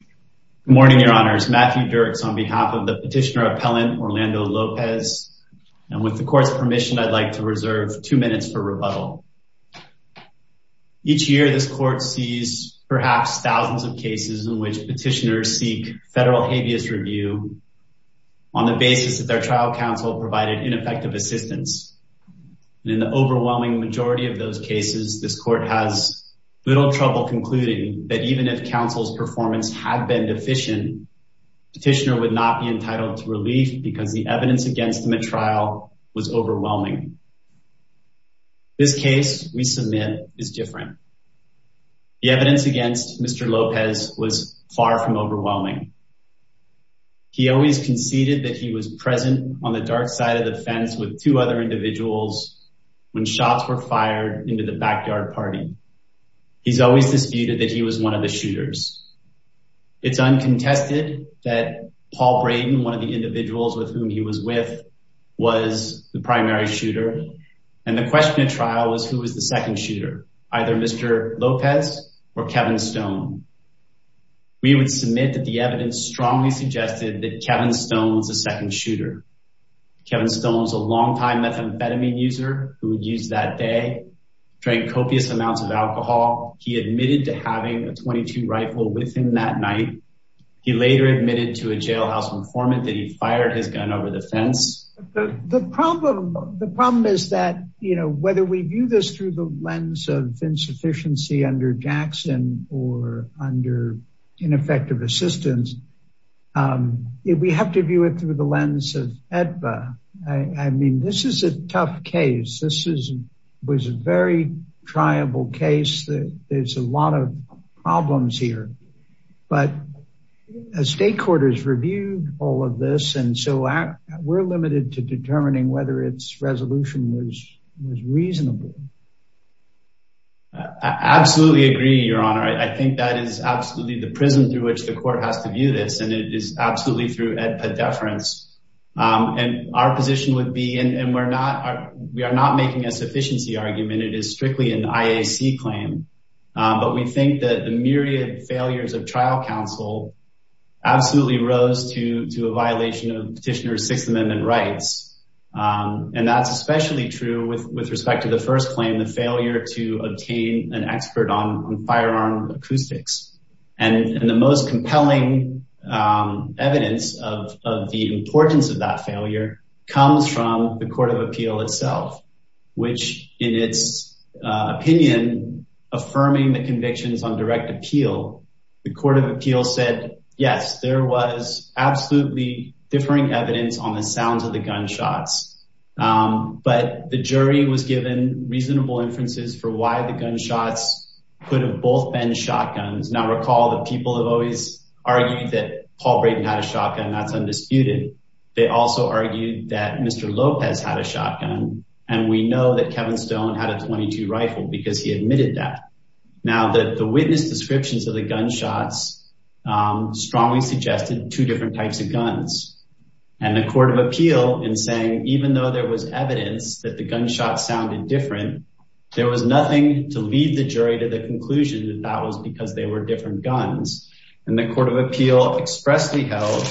Good morning, your honors. Matthew Dirks on behalf of the petitioner appellant, Orlando Lopez, and with the court's permission, I'd like to reserve two minutes for rebuttal. Each year, this court sees perhaps thousands of cases in which petitioners seek federal habeas review on the basis that their trial counsel provided ineffective assistance. In the overwhelming majority of those cases, this court has little trouble concluding that even if performance had been deficient, petitioner would not be entitled to relief because the evidence against him at trial was overwhelming. This case we submit is different. The evidence against Mr. Lopez was far from overwhelming. He always conceded that he was present on the dark side of the fence with two other individuals when shots were fired into the backyard party. He's always disputed that he was one of the shooters. It's uncontested that Paul Braden, one of the individuals with whom he was with, was the primary shooter, and the question at trial was who was the second shooter, either Mr. Lopez or Kevin Stone. We would submit that the evidence strongly suggested that Kevin Stone was the second shooter. Kevin Stone was a longtime methamphetamine user who would use that day, drank copious amounts of alcohol. He admitted to having a 22 rifle with him that night. He later admitted to a jailhouse informant that he fired his gun over the fence. The problem is that whether we view this through the lens of insufficiency under Jackson or under ineffective assistance, we have to view it through the lens of EDBA. I mean, this is a very triable case. There's a lot of problems here, but a state court has reviewed all of this, and so we're limited to determining whether its resolution was reasonable. I absolutely agree, Your Honor. I think that is absolutely the prism through which the court has to view this, and it is absolutely through EDBA deference. Our position would be, and we're not making a sufficiency argument. It is strictly an IAC claim, but we think that the myriad failures of trial counsel absolutely rose to a violation of Petitioner's Sixth Amendment rights, and that's especially true with respect to the first claim, the failure to obtain an expert on firearm acoustics, and the most compelling evidence of the importance of that failure comes from the Court of Appeal itself, which, in its opinion, affirming the convictions on direct appeal, the Court of Appeal said, yes, there was absolutely differing evidence on the sounds of the gunshots, but the jury was given reasonable inferences for why the gunshots could have both been shotguns. Now, recall that people have always argued that Paul Brayden had shotgun. That's undisputed. They also argued that Mr. Lopez had a shotgun, and we know that Kevin Stone had a .22 rifle because he admitted that. Now, the witness descriptions of the gunshots strongly suggested two different types of guns, and the Court of Appeal, in saying even though there was evidence that the gunshots sounded different, there was nothing to lead the jury to the conclusion that that was because they were different guns, and the Court of Appeal expressly held,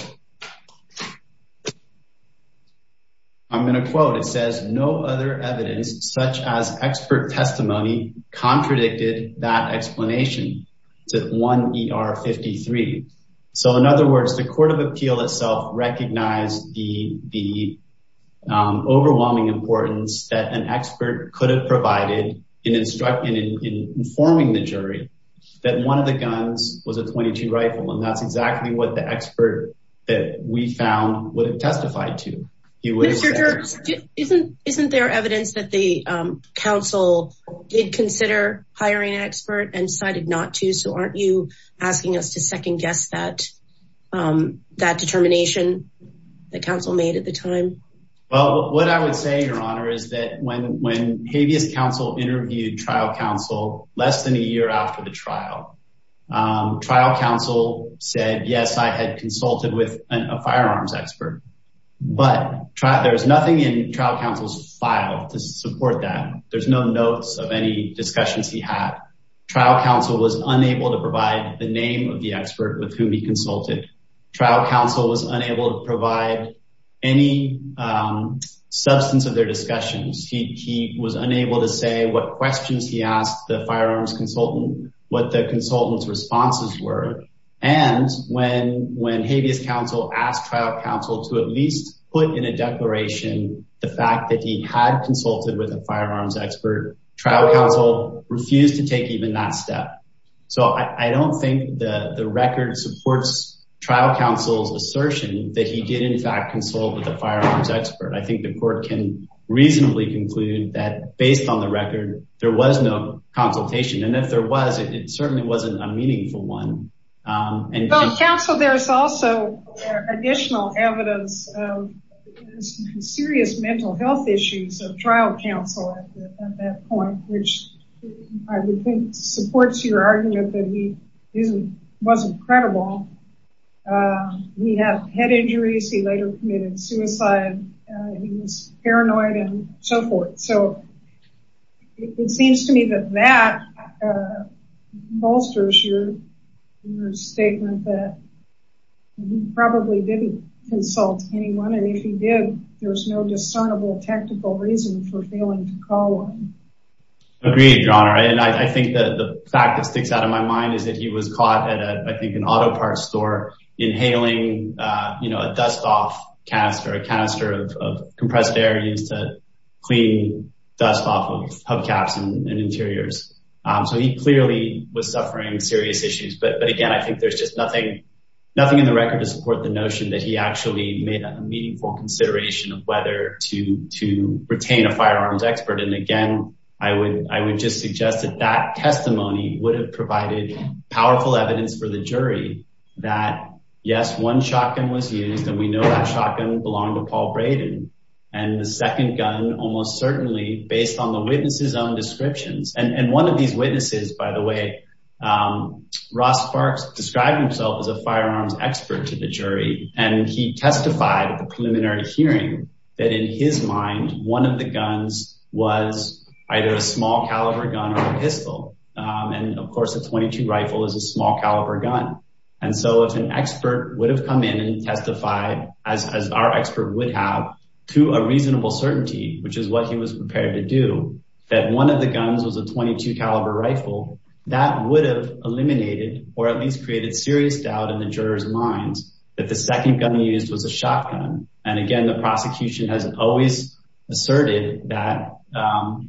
I'm going to quote, it says, no other evidence, such as expert testimony, contradicted that explanation. It's at 1 ER 53. So, in other words, the Court of Appeal itself recognized the overwhelming importance that an expert could have provided in informing the jury that one of the guns was a .22 rifle, and that's exactly what the expert that we found would have testified to. Isn't there evidence that the counsel did consider hiring an expert and decided not to? So, aren't you asking us to second guess that determination that counsel made at the time? Well, what I would say, Your Honor, is that when trial counsel said, yes, I had consulted with a firearms expert, but there's nothing in trial counsel's file to support that. There's no notes of any discussions he had. Trial counsel was unable to provide the name of the expert with whom he consulted. Trial counsel was unable to provide any substance of their discussions. He was unable to say what questions he asked the what the consultant's responses were. And when habeas counsel asked trial counsel to at least put in a declaration the fact that he had consulted with a firearms expert, trial counsel refused to take even that step. So, I don't think the record supports trial counsel's assertion that he did, in fact, consult with a firearms expert. I think the Court can reasonably conclude that based on the record, there was no consultation. And if there was, it certainly wasn't a meaningful one. Well, counsel, there's also additional evidence of serious mental health issues of trial counsel at that point, which I would think supports your argument that he wasn't credible. He had head injuries. He later committed suicide. He was paranoid and so forth. So, it seems to me that that bolsters your statement that he probably didn't consult anyone. And if he did, there's no discernible technical reason for failing to call on him. Agreed, Your Honor. And I think that the fact that sticks out in my mind is that he was caught at, I think, an auto parts store inhaling, you know, a dust off canister, a canister of clean dust off of hubcaps and interiors. So, he clearly was suffering serious issues. But again, I think there's just nothing in the record to support the notion that he actually made a meaningful consideration of whether to retain a firearms expert. And again, I would just suggest that that testimony would have provided powerful evidence for the jury that, yes, one shotgun was and the second gun almost certainly based on the witness's own descriptions. And one of these witnesses, by the way, Ross Parks described himself as a firearms expert to the jury. And he testified at the preliminary hearing that in his mind, one of the guns was either a small caliber gun or a pistol. And of course, a .22 rifle is a small caliber gun. And so, if an expert would have come in and testified, as our expert would have, to a reasonable certainty, which is what he was prepared to do, that one of the guns was a .22 caliber rifle, that would have eliminated or at least created serious doubt in the jurors' minds that the second gun used was a shotgun. And again, the prosecution has always asserted that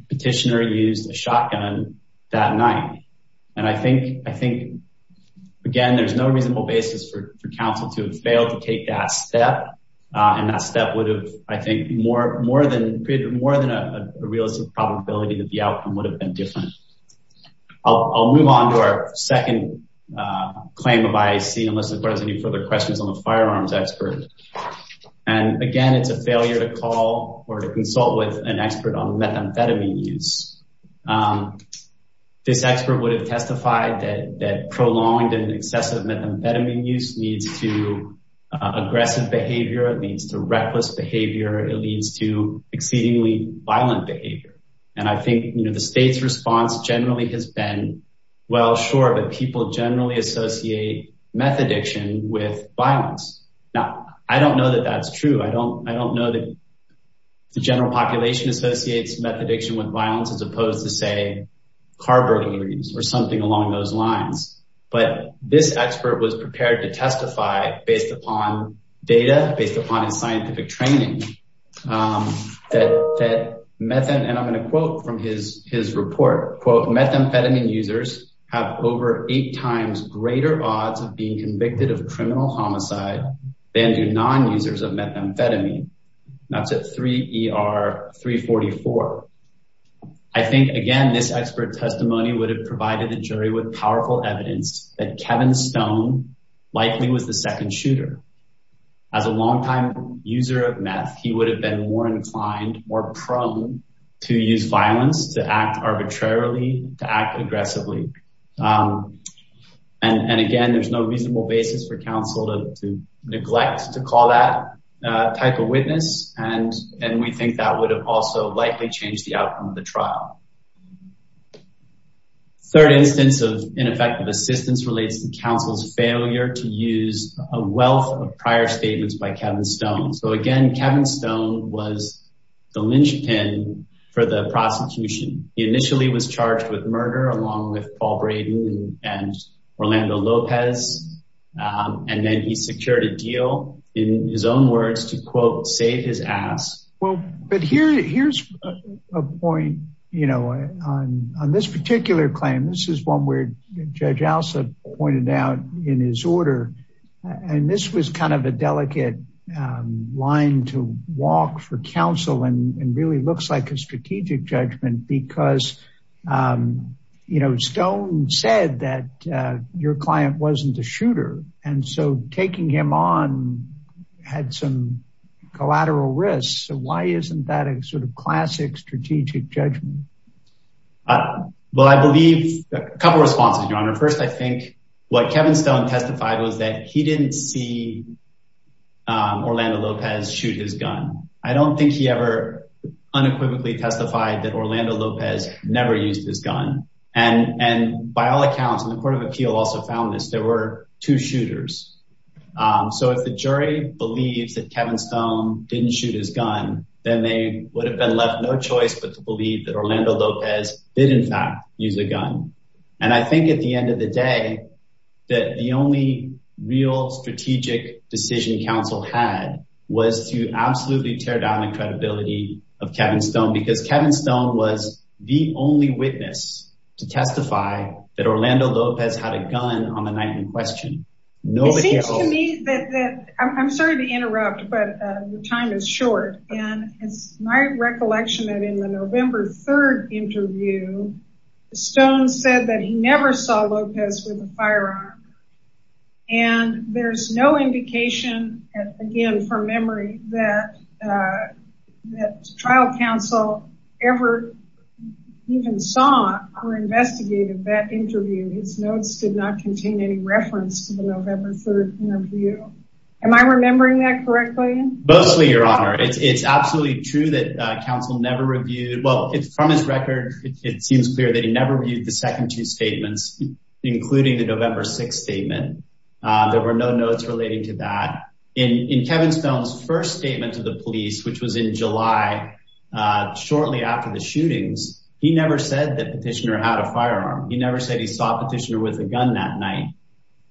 Petitioner used a shotgun that night. And I think, again, there's no reasonable basis for counsel to have failed to take that step. And that step would have, I think, created more than a realistic probability that the outcome would have been different. I'll move on to our second claim of IAC, unless there's any further questions on the firearms expert. And again, it's a failure to call or to consult with an expert on that. I think Petitioner would have testified that prolonged and excessive methamphetamine use needs to aggressive behavior. It leads to reckless behavior. It leads to exceedingly violent behavior. And I think, you know, the state's response generally has been, well, sure, but people generally associate meth addiction with violence. Now, I don't know that that's true. I don't know that the general population associates meth addiction with violence, as opposed to, say, car burning or something along those lines. But this expert was prepared to testify, based upon data, based upon his scientific training, that meth, and I'm going to quote from his report, quote, methamphetamine users have over eight times greater odds of being convicted of criminal homicide than do non-users of methamphetamine. That's at 3ER344. I think, again, this expert testimony would have provided a jury with powerful evidence that Kevin Stone likely was the second shooter. As a longtime user of meth, he would have been more inclined, more prone to use violence, to act arbitrarily, to act aggressively. And again, there's no reasonable basis for counsel to neglect to call that type of witness. And we think that would have likely changed the outcome of the trial. Third instance of ineffective assistance relates to counsel's failure to use a wealth of prior statements by Kevin Stone. So, again, Kevin Stone was the linchpin for the prosecution. He initially was charged with murder, along with Paul Braden and Orlando Lopez. And then he secured a deal, in his own words, to, quote, save his ass. Well, but here's a point, you know, on this particular claim. This is one where Judge Alsa pointed out in his order. And this was kind of a delicate line to walk for counsel and really looks like a strategic judgment because, you know, Stone said that your client wasn't a sort of classic strategic judgment. Well, I believe a couple responses, Your Honor. First, I think what Kevin Stone testified was that he didn't see Orlando Lopez shoot his gun. I don't think he ever unequivocally testified that Orlando Lopez never used his gun. And by all accounts, and the Court of Appeal also found this, there were two shooters. So if the jury believes that Kevin Stone didn't shoot his gun, then they would have been left no choice but to believe that Orlando Lopez did, in fact, use a gun. And I think at the end of the day, that the only real strategic decision counsel had was to absolutely tear down the credibility of Kevin Stone because Kevin Stone was the only witness to testify that Orlando Lopez had a gun on the night in question. I'm sorry to interrupt, but the time is short. And it's my recollection that in the November 3rd interview, Stone said that he never saw Lopez with a firearm. And there's no indication, again, from memory, that trial counsel ever even saw or investigated that interview. His notes did not contain any reference to the November 3rd interview. Am I remembering that correctly? Mostly, Your Honor. It's absolutely true that counsel never reviewed, well, from his record, it seems clear that he never reviewed the second two statements, including the November 6th statement. There were no notes relating to that. In Kevin Stone's interview after the shootings, he never said that Petitioner had a firearm. He never said he saw Petitioner with a gun that night.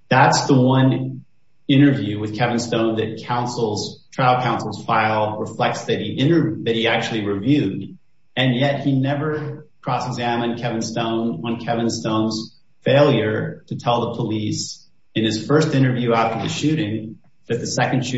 That's the one interview with Kevin Stone that trial counsel's file reflects that he actually reviewed. And yet he never cross-examined Kevin Stone on Kevin Stone's failure to tell the police in his first interview after the shooting that the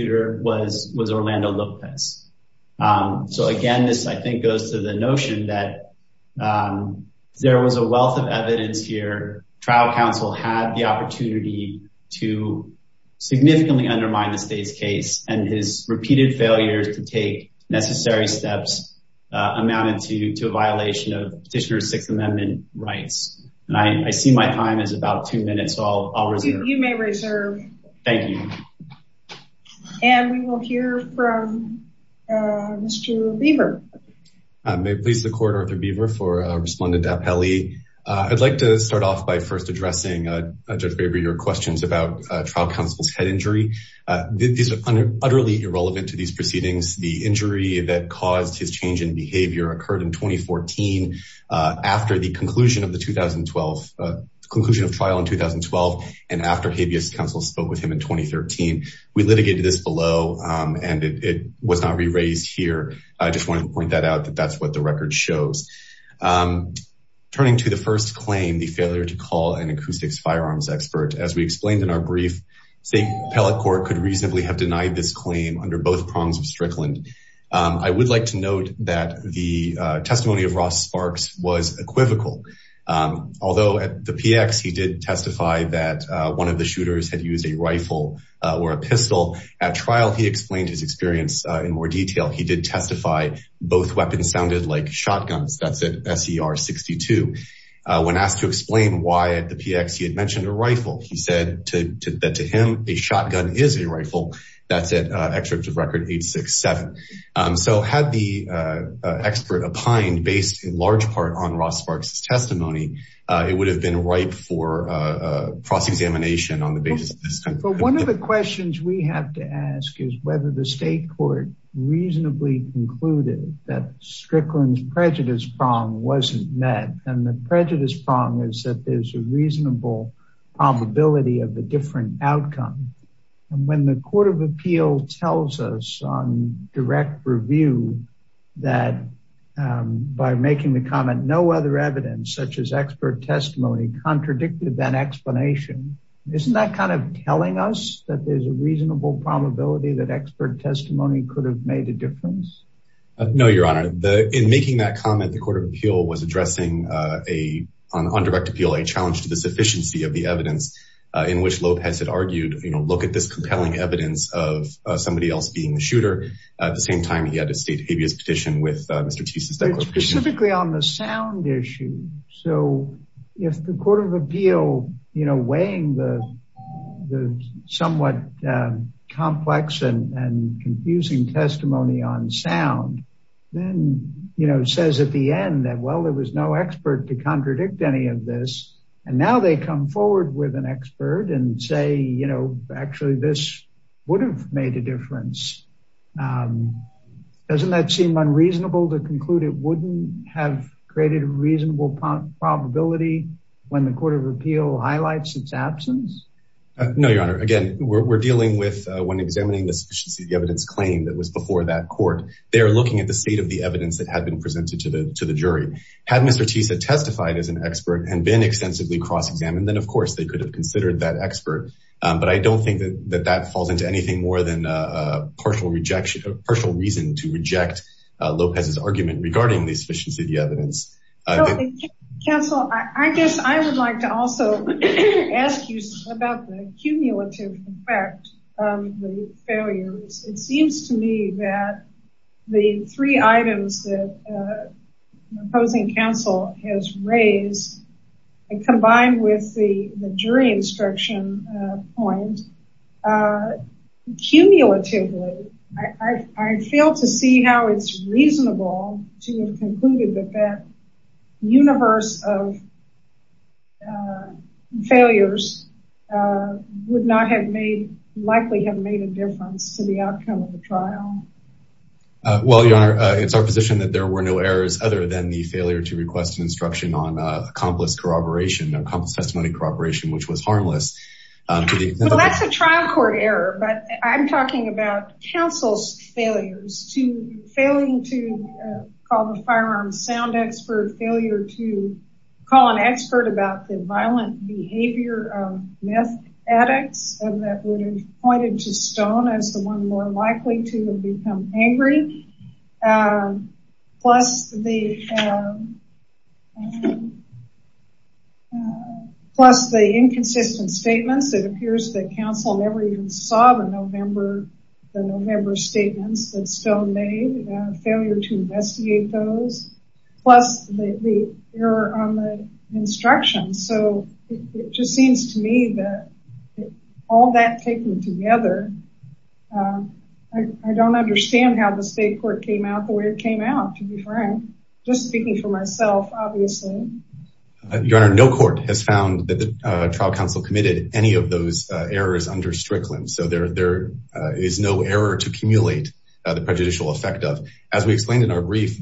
there was a wealth of evidence here. Trial counsel had the opportunity to significantly undermine the state's case, and his repeated failures to take necessary steps amounted to a violation of Petitioner's Sixth Amendment rights. And I see my time is about two minutes, so I'll reserve. You may reserve. Thank you. And we will hear from Mr. Lieber. May it please the court, Arthur Lieber for Respondent Dappelli. I'd like to start off by first addressing Judge Baber your questions about trial counsel's head injury. These are utterly irrelevant to these proceedings. The injury that caused his change in behavior occurred in 2014 after the conclusion of the 2012, the conclusion of trial in 2012, and after habeas counsel spoke with him in 2013. We litigated this below and it was not re-raised here. I just wanted to point that out that that's what the record shows. Turning to the first claim, the failure to call an acoustics firearms expert. As we explained in our brief, State Appellate Court could reasonably have denied this claim under both prongs of Strickland. I would like to note that the testimony of Ross Sparks was equivocal. Although at the PX he did testify that one of the shooters had used a rifle or a pistol at trial, he explained his experience in more detail. He did testify both weapons sounded like shotguns. That's at SER 62. When asked to explain why at the PX, he had mentioned a rifle. He said that to him, a shotgun is a rifle. That's at extract of record 867. So had the expert opined based in large part on Ross Sparks testimony, it would have been ripe for a cross-examination on the basis of this. One of the questions we have to ask is whether the State Court reasonably concluded that Strickland's prejudice prong wasn't met and the prejudice prong is that there's a reasonable probability of a different outcome. When the Court of Appeal tells us on direct review that by making the comment no other evidence such as that explanation, isn't that kind of telling us that there's a reasonable probability that expert testimony could have made a difference? No, your honor. In making that comment, the Court of Appeal was addressing on direct appeal a challenge to the sufficiency of the evidence in which Lopez had argued, you know, look at this compelling evidence of somebody else being the shooter. At the same time, he had a state habeas petition with Mr. Teese. Specifically on the sound issue. So if the Court of Appeal, you know, weighing the somewhat complex and confusing testimony on sound, then, you know, says at the end that, well, there was no expert to contradict any of this. And now they come forward with an expert and say, you know, actually this would have made a difference. Doesn't that seem unreasonable to conclude it have created a reasonable probability when the Court of Appeal highlights its absence? No, your honor. Again, we're dealing with when examining the sufficiency of the evidence claim that was before that court. They're looking at the state of the evidence that had been presented to the jury. Had Mr. Teese had testified as an expert and been extensively cross-examined, then of course they could have considered that expert. But I don't think that that falls into anything more than a partial reason to reject Lopez's argument regarding the sufficiency of the evidence. Counsel, I guess I would like to also ask you about the cumulative effect on the failures. It seems to me that the three items that the opposing counsel has raised, combined with the jury instruction point, cumulatively, I fail to see how it's reasonable to have concluded that that universe of failures would not have made, likely have made a difference to the outcome of the trial. Well, your honor, it's our position that there were no errors other than the failure to request instruction on accomplice corroboration, accomplice testimony corroboration, which was harmless. That's a trial court error, but I'm talking about counsel's failures to failing to call the firearm sound expert, failure to call an expert about the violent behavior of meth addicts that would have more likely to have become angry, plus the inconsistent statements. It appears that counsel never even saw the November statements that still made, failure to investigate those, plus the error on the instructions. So it just seems to me that all that taken together, I don't understand how the state court came out the way it came out, to be frank, just speaking for myself, obviously. Your honor, no court has found that the trial counsel committed any of those errors under Strickland. So there is no error to cumulate the prejudicial effect of. As we explained in our decisions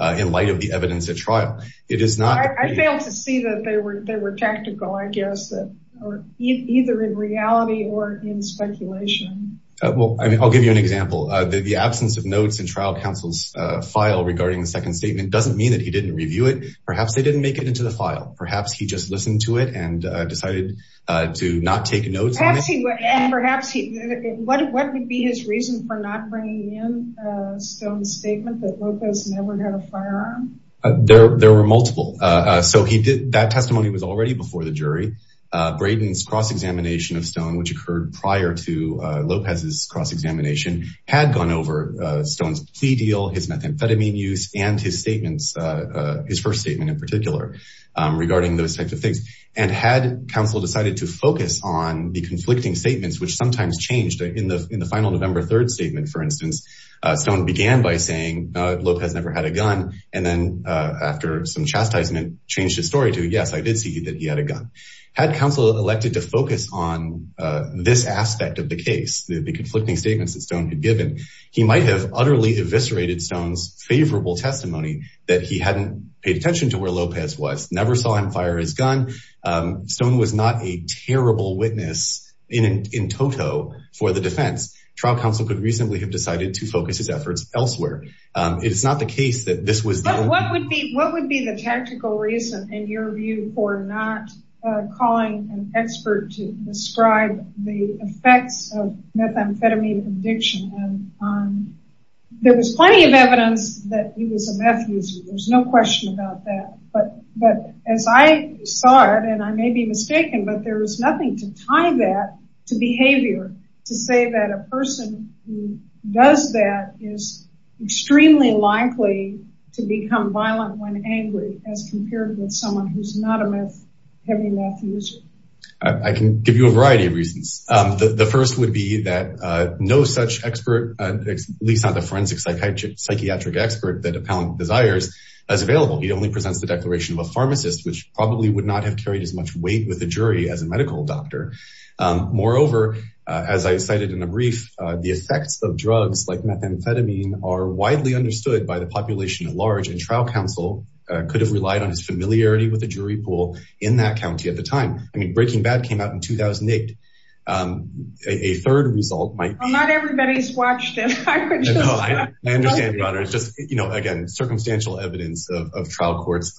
in light of the evidence at trial, it is not. I failed to see that they were, they were tactical, I guess, that are either in reality or in speculation. Well, I mean, I'll give you an example. The absence of notes in trial counsel's file regarding the second statement doesn't mean that he didn't review it. Perhaps they didn't make it into the file. Perhaps he just listened to it and decided to not take notes. Perhaps he, what would be his reason for not bringing in Stone's statement that Lopez never had a firearm? There were multiple. So he did, that testimony was already before the jury. Brayden's cross-examination of Stone, which occurred prior to Lopez's cross-examination, had gone over Stone's plea deal, his methamphetamine use, and his statements, his first statement in particular, regarding those types of things. And had counsel decided to focus on the conflicting statements, which sometimes changed in the final November 3rd statement, for instance, Stone began by saying Lopez never had a gun. And then after some chastisement changed his story to, yes, I did see that he had a gun. Had counsel elected to focus on this aspect of the case, the conflicting statements that Stone had given, he might have utterly eviscerated Stone's favorable testimony that he hadn't paid attention to where Lopez was, never saw him fire his gun. Stone was not a terrible witness in total for the defense. Trial counsel could reasonably have decided to focus his efforts elsewhere. It's not the case that this was... What would be the tactical reason, in your view, for not calling an expert to describe the effects of methamphetamine addiction? There was plenty of evidence that he was a meth addict. But as I saw it, and I may be mistaken, but there was nothing to tie that to behavior to say that a person who does that is extremely likely to become violent when angry as compared with someone who's not a meth heavy meth user. I can give you a variety of reasons. The first would be that no such expert, at least not the forensic psychiatric expert that Appellant desires, is available. He only presents the declaration of a pharmacist, which probably would not have carried as much weight with a jury as a medical doctor. Moreover, as I cited in a brief, the effects of drugs like methamphetamine are widely understood by the population at large, and trial counsel could have relied on his familiarity with the jury pool in that county at the time. Breaking Bad came out in 2008. A third result might be... Not everybody's watched it. I understand, Your Honor. It's just, you know, again, circumstantial evidence of trial courts,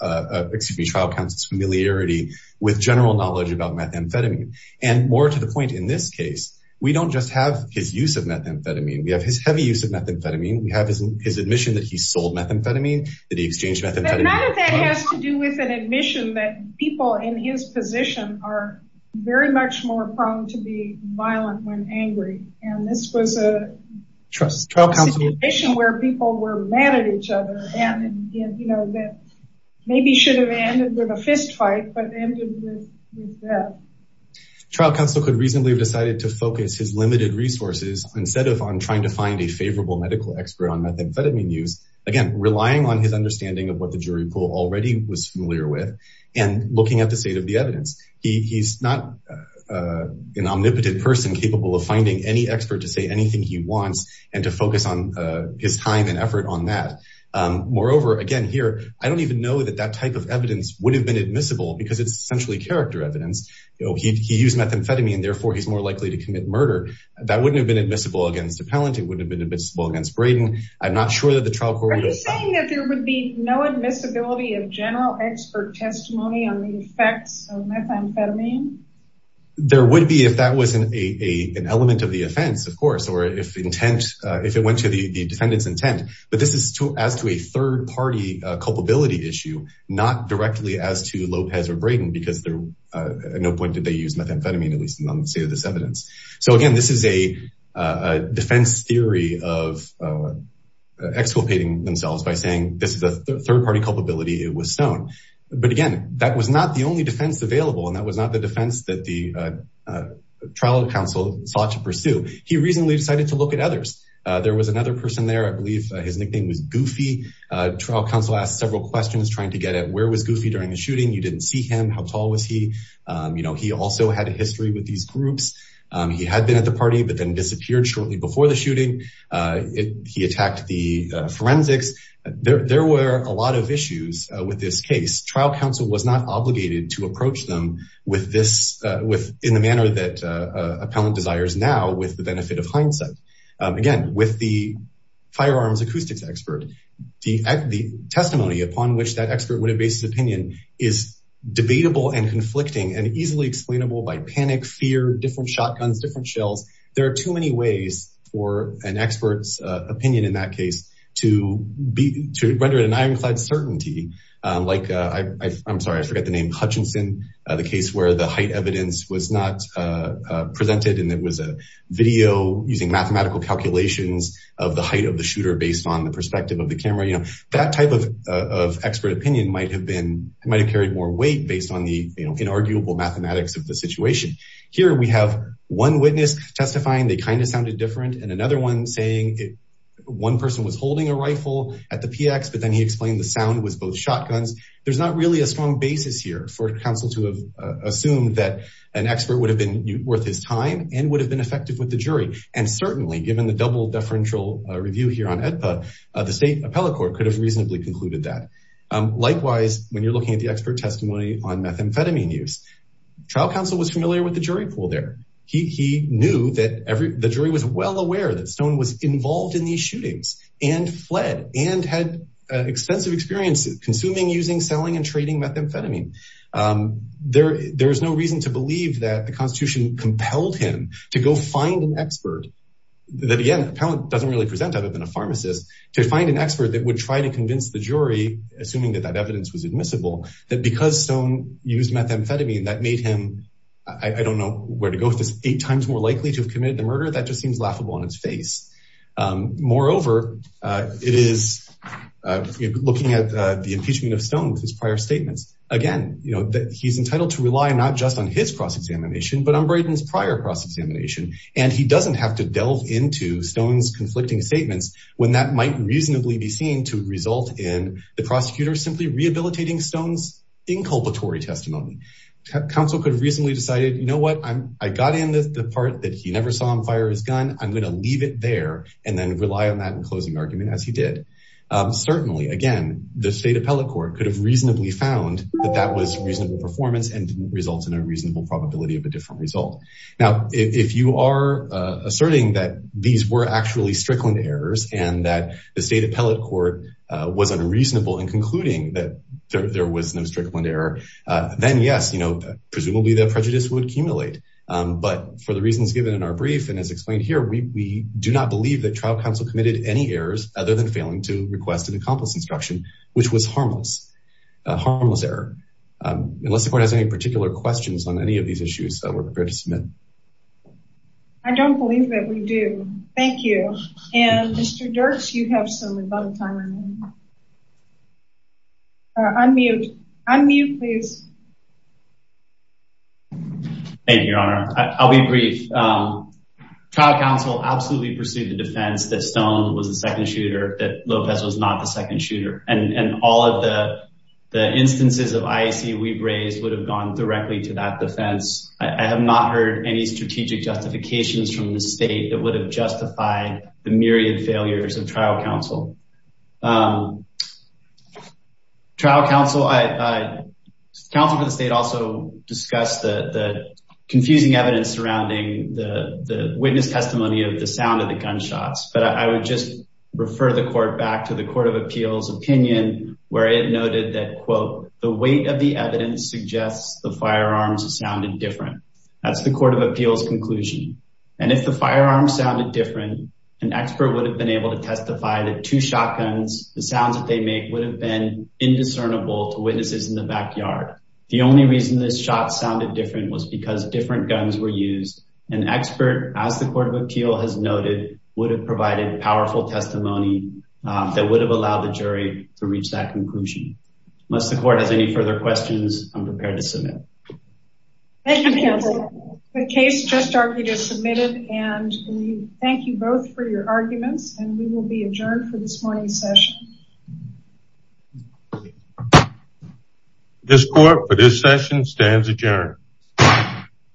excuse me, trial counsel's familiarity with general knowledge about methamphetamine. And more to the point, in this case, we don't just have his use of methamphetamine. We have his heavy use of methamphetamine. We have his admission that he sold methamphetamine, that he exchanged methamphetamine. None of that has to do with an admission that people in his trial counsel... Situation where people were mad at each other and, you know, maybe should have ended with a fistfight, but ended with death. Trial counsel could reasonably have decided to focus his limited resources instead of on trying to find a favorable medical expert on methamphetamine use, again, relying on his understanding of what the jury pool already was familiar with, and looking at the state of the evidence. He's not an omnipotent person capable of finding any expert to say anything he wants, focus on his time and effort on that. Moreover, again, here, I don't even know that that type of evidence would have been admissible because it's essentially character evidence. He used methamphetamine, therefore he's more likely to commit murder. That wouldn't have been admissible against Appellant. It wouldn't have been admissible against Braden. I'm not sure that the trial court... Are you saying that there would be no admissibility of general expert testimony on the effects of methamphetamine? There would be if that wasn't an element of offense, of course, or if it went to the defendant's intent, but this is as to a third party culpability issue, not directly as to Lopez or Braden, because at no point did they use methamphetamine, at least on the state of this evidence. So again, this is a defense theory of exculpating themselves by saying this is a third party culpability, it was stoned. But again, that was not the only defense available, and that was not the defense that the trial counsel sought to pursue. He reasonably decided to look at others. There was another person there, I believe his nickname was Goofy. Trial counsel asked several questions trying to get at where was Goofy during the shooting, you didn't see him, how tall was he? He also had a history with these groups. He had been at the party, but then disappeared shortly before the shooting. He attacked the forensics. There were a lot of issues with this case. Trial counsel was obligated to approach them in the manner that appellant desires now with the benefit of hindsight. Again, with the firearms acoustics expert, the testimony upon which that expert would have based his opinion is debatable and conflicting and easily explainable by panic, fear, different shotguns, different shells. There are too many ways for an expert's opinion in that case to render it an ironclad certainty. I'm sorry, I forgot the name, Hutchinson, the case where the height evidence was not presented and it was a video using mathematical calculations of the height of the shooter based on the perspective of the camera. That type of expert opinion might have carried more weight based on the inarguable mathematics of the situation. Here we have one witness testifying, they kind of sounded different, and another one saying one person was holding a rifle at the PX, but then he explained the sound was both shotguns. There's not really a strong basis here for counsel to have assumed that an expert would have been worth his time and would have been effective with the jury. And certainly given the double deferential review here on AEDPA, the state appellate court could have reasonably concluded that. Likewise, when you're looking at the expert testimony on methamphetamine use, trial counsel was familiar with the jury pool there. He knew that the jury was well aware that Stone was involved in these shootings and fled and had extensive experience consuming, using, selling, and trading methamphetamine. There's no reason to believe that the Constitution compelled him to go find an expert, that again, appellate doesn't really present other than a pharmacist, to find an expert that would try to convince the jury, assuming that that evidence was admissible, that because Stone used methamphetamine that made him, I don't know where to go with this, eight times more likely to have committed the murder. That just seems laughable on its face. Moreover, it is looking at the impeachment of Stone with his prior statements. Again, you know that he's entitled to rely not just on his cross examination, but on Brayden's prior cross examination. And he doesn't have to delve into Stone's conflicting statements when that might reasonably be seen to result in the prosecutor simply rehabilitating Stone's inculpatory testimony. Counsel could have reasonably decided, you know what, I'm, I got in the part that he never saw him fire his gun. I'm going to leave it there and then rely on that in closing argument as he did. Certainly again, the state appellate court could have reasonably found that that was reasonable performance and didn't result in a reasonable probability of a different result. Now, if you are asserting that these were actually strickland errors and that the state appellate court was unreasonable in concluding that there prejudice would accumulate. But for the reasons given in our brief, and as explained here, we do not believe that trial counsel committed any errors other than failing to request an accomplice instruction, which was harmless, a harmless error. Unless the court has any particular questions on any of these issues that we're prepared to submit. I don't believe that we do. Thank you. And Mr. Dirks, you have some time. Unmute. Unmute, please. Thank you, Your Honor. I'll be brief. Trial counsel absolutely pursued the defense that Stone was the second shooter, that Lopez was not the second shooter. And all of the instances of IAC we've raised would have gone directly to that defense. I have not heard any strategic justifications from the state that would have justified the myriad failures of trial counsel. Counsel for the state also discussed the confusing evidence surrounding the witness testimony of the sound of the gunshots. But I would just refer the court back to the Court of Appeals opinion where it noted that, quote, the weight of the evidence suggests the firearms sounded different. That's the Court of Appeals conclusion. And if the firearms sounded different, an expert would have been able to testify that two shotguns, the sounds that they make would have been indiscernible to witnesses in the backyard. The only reason this shot sounded different was because different guns were used. An expert, as the Court of Appeals has noted, would have provided powerful testimony that would have allowed the jury to reach that conclusion. Unless the court has any further questions, I'm prepared to submit. Thank you, counsel. The case just argued is submitted and we thank you both for your arguments and we will be adjourned for this morning's session. This court for this session stands adjourned.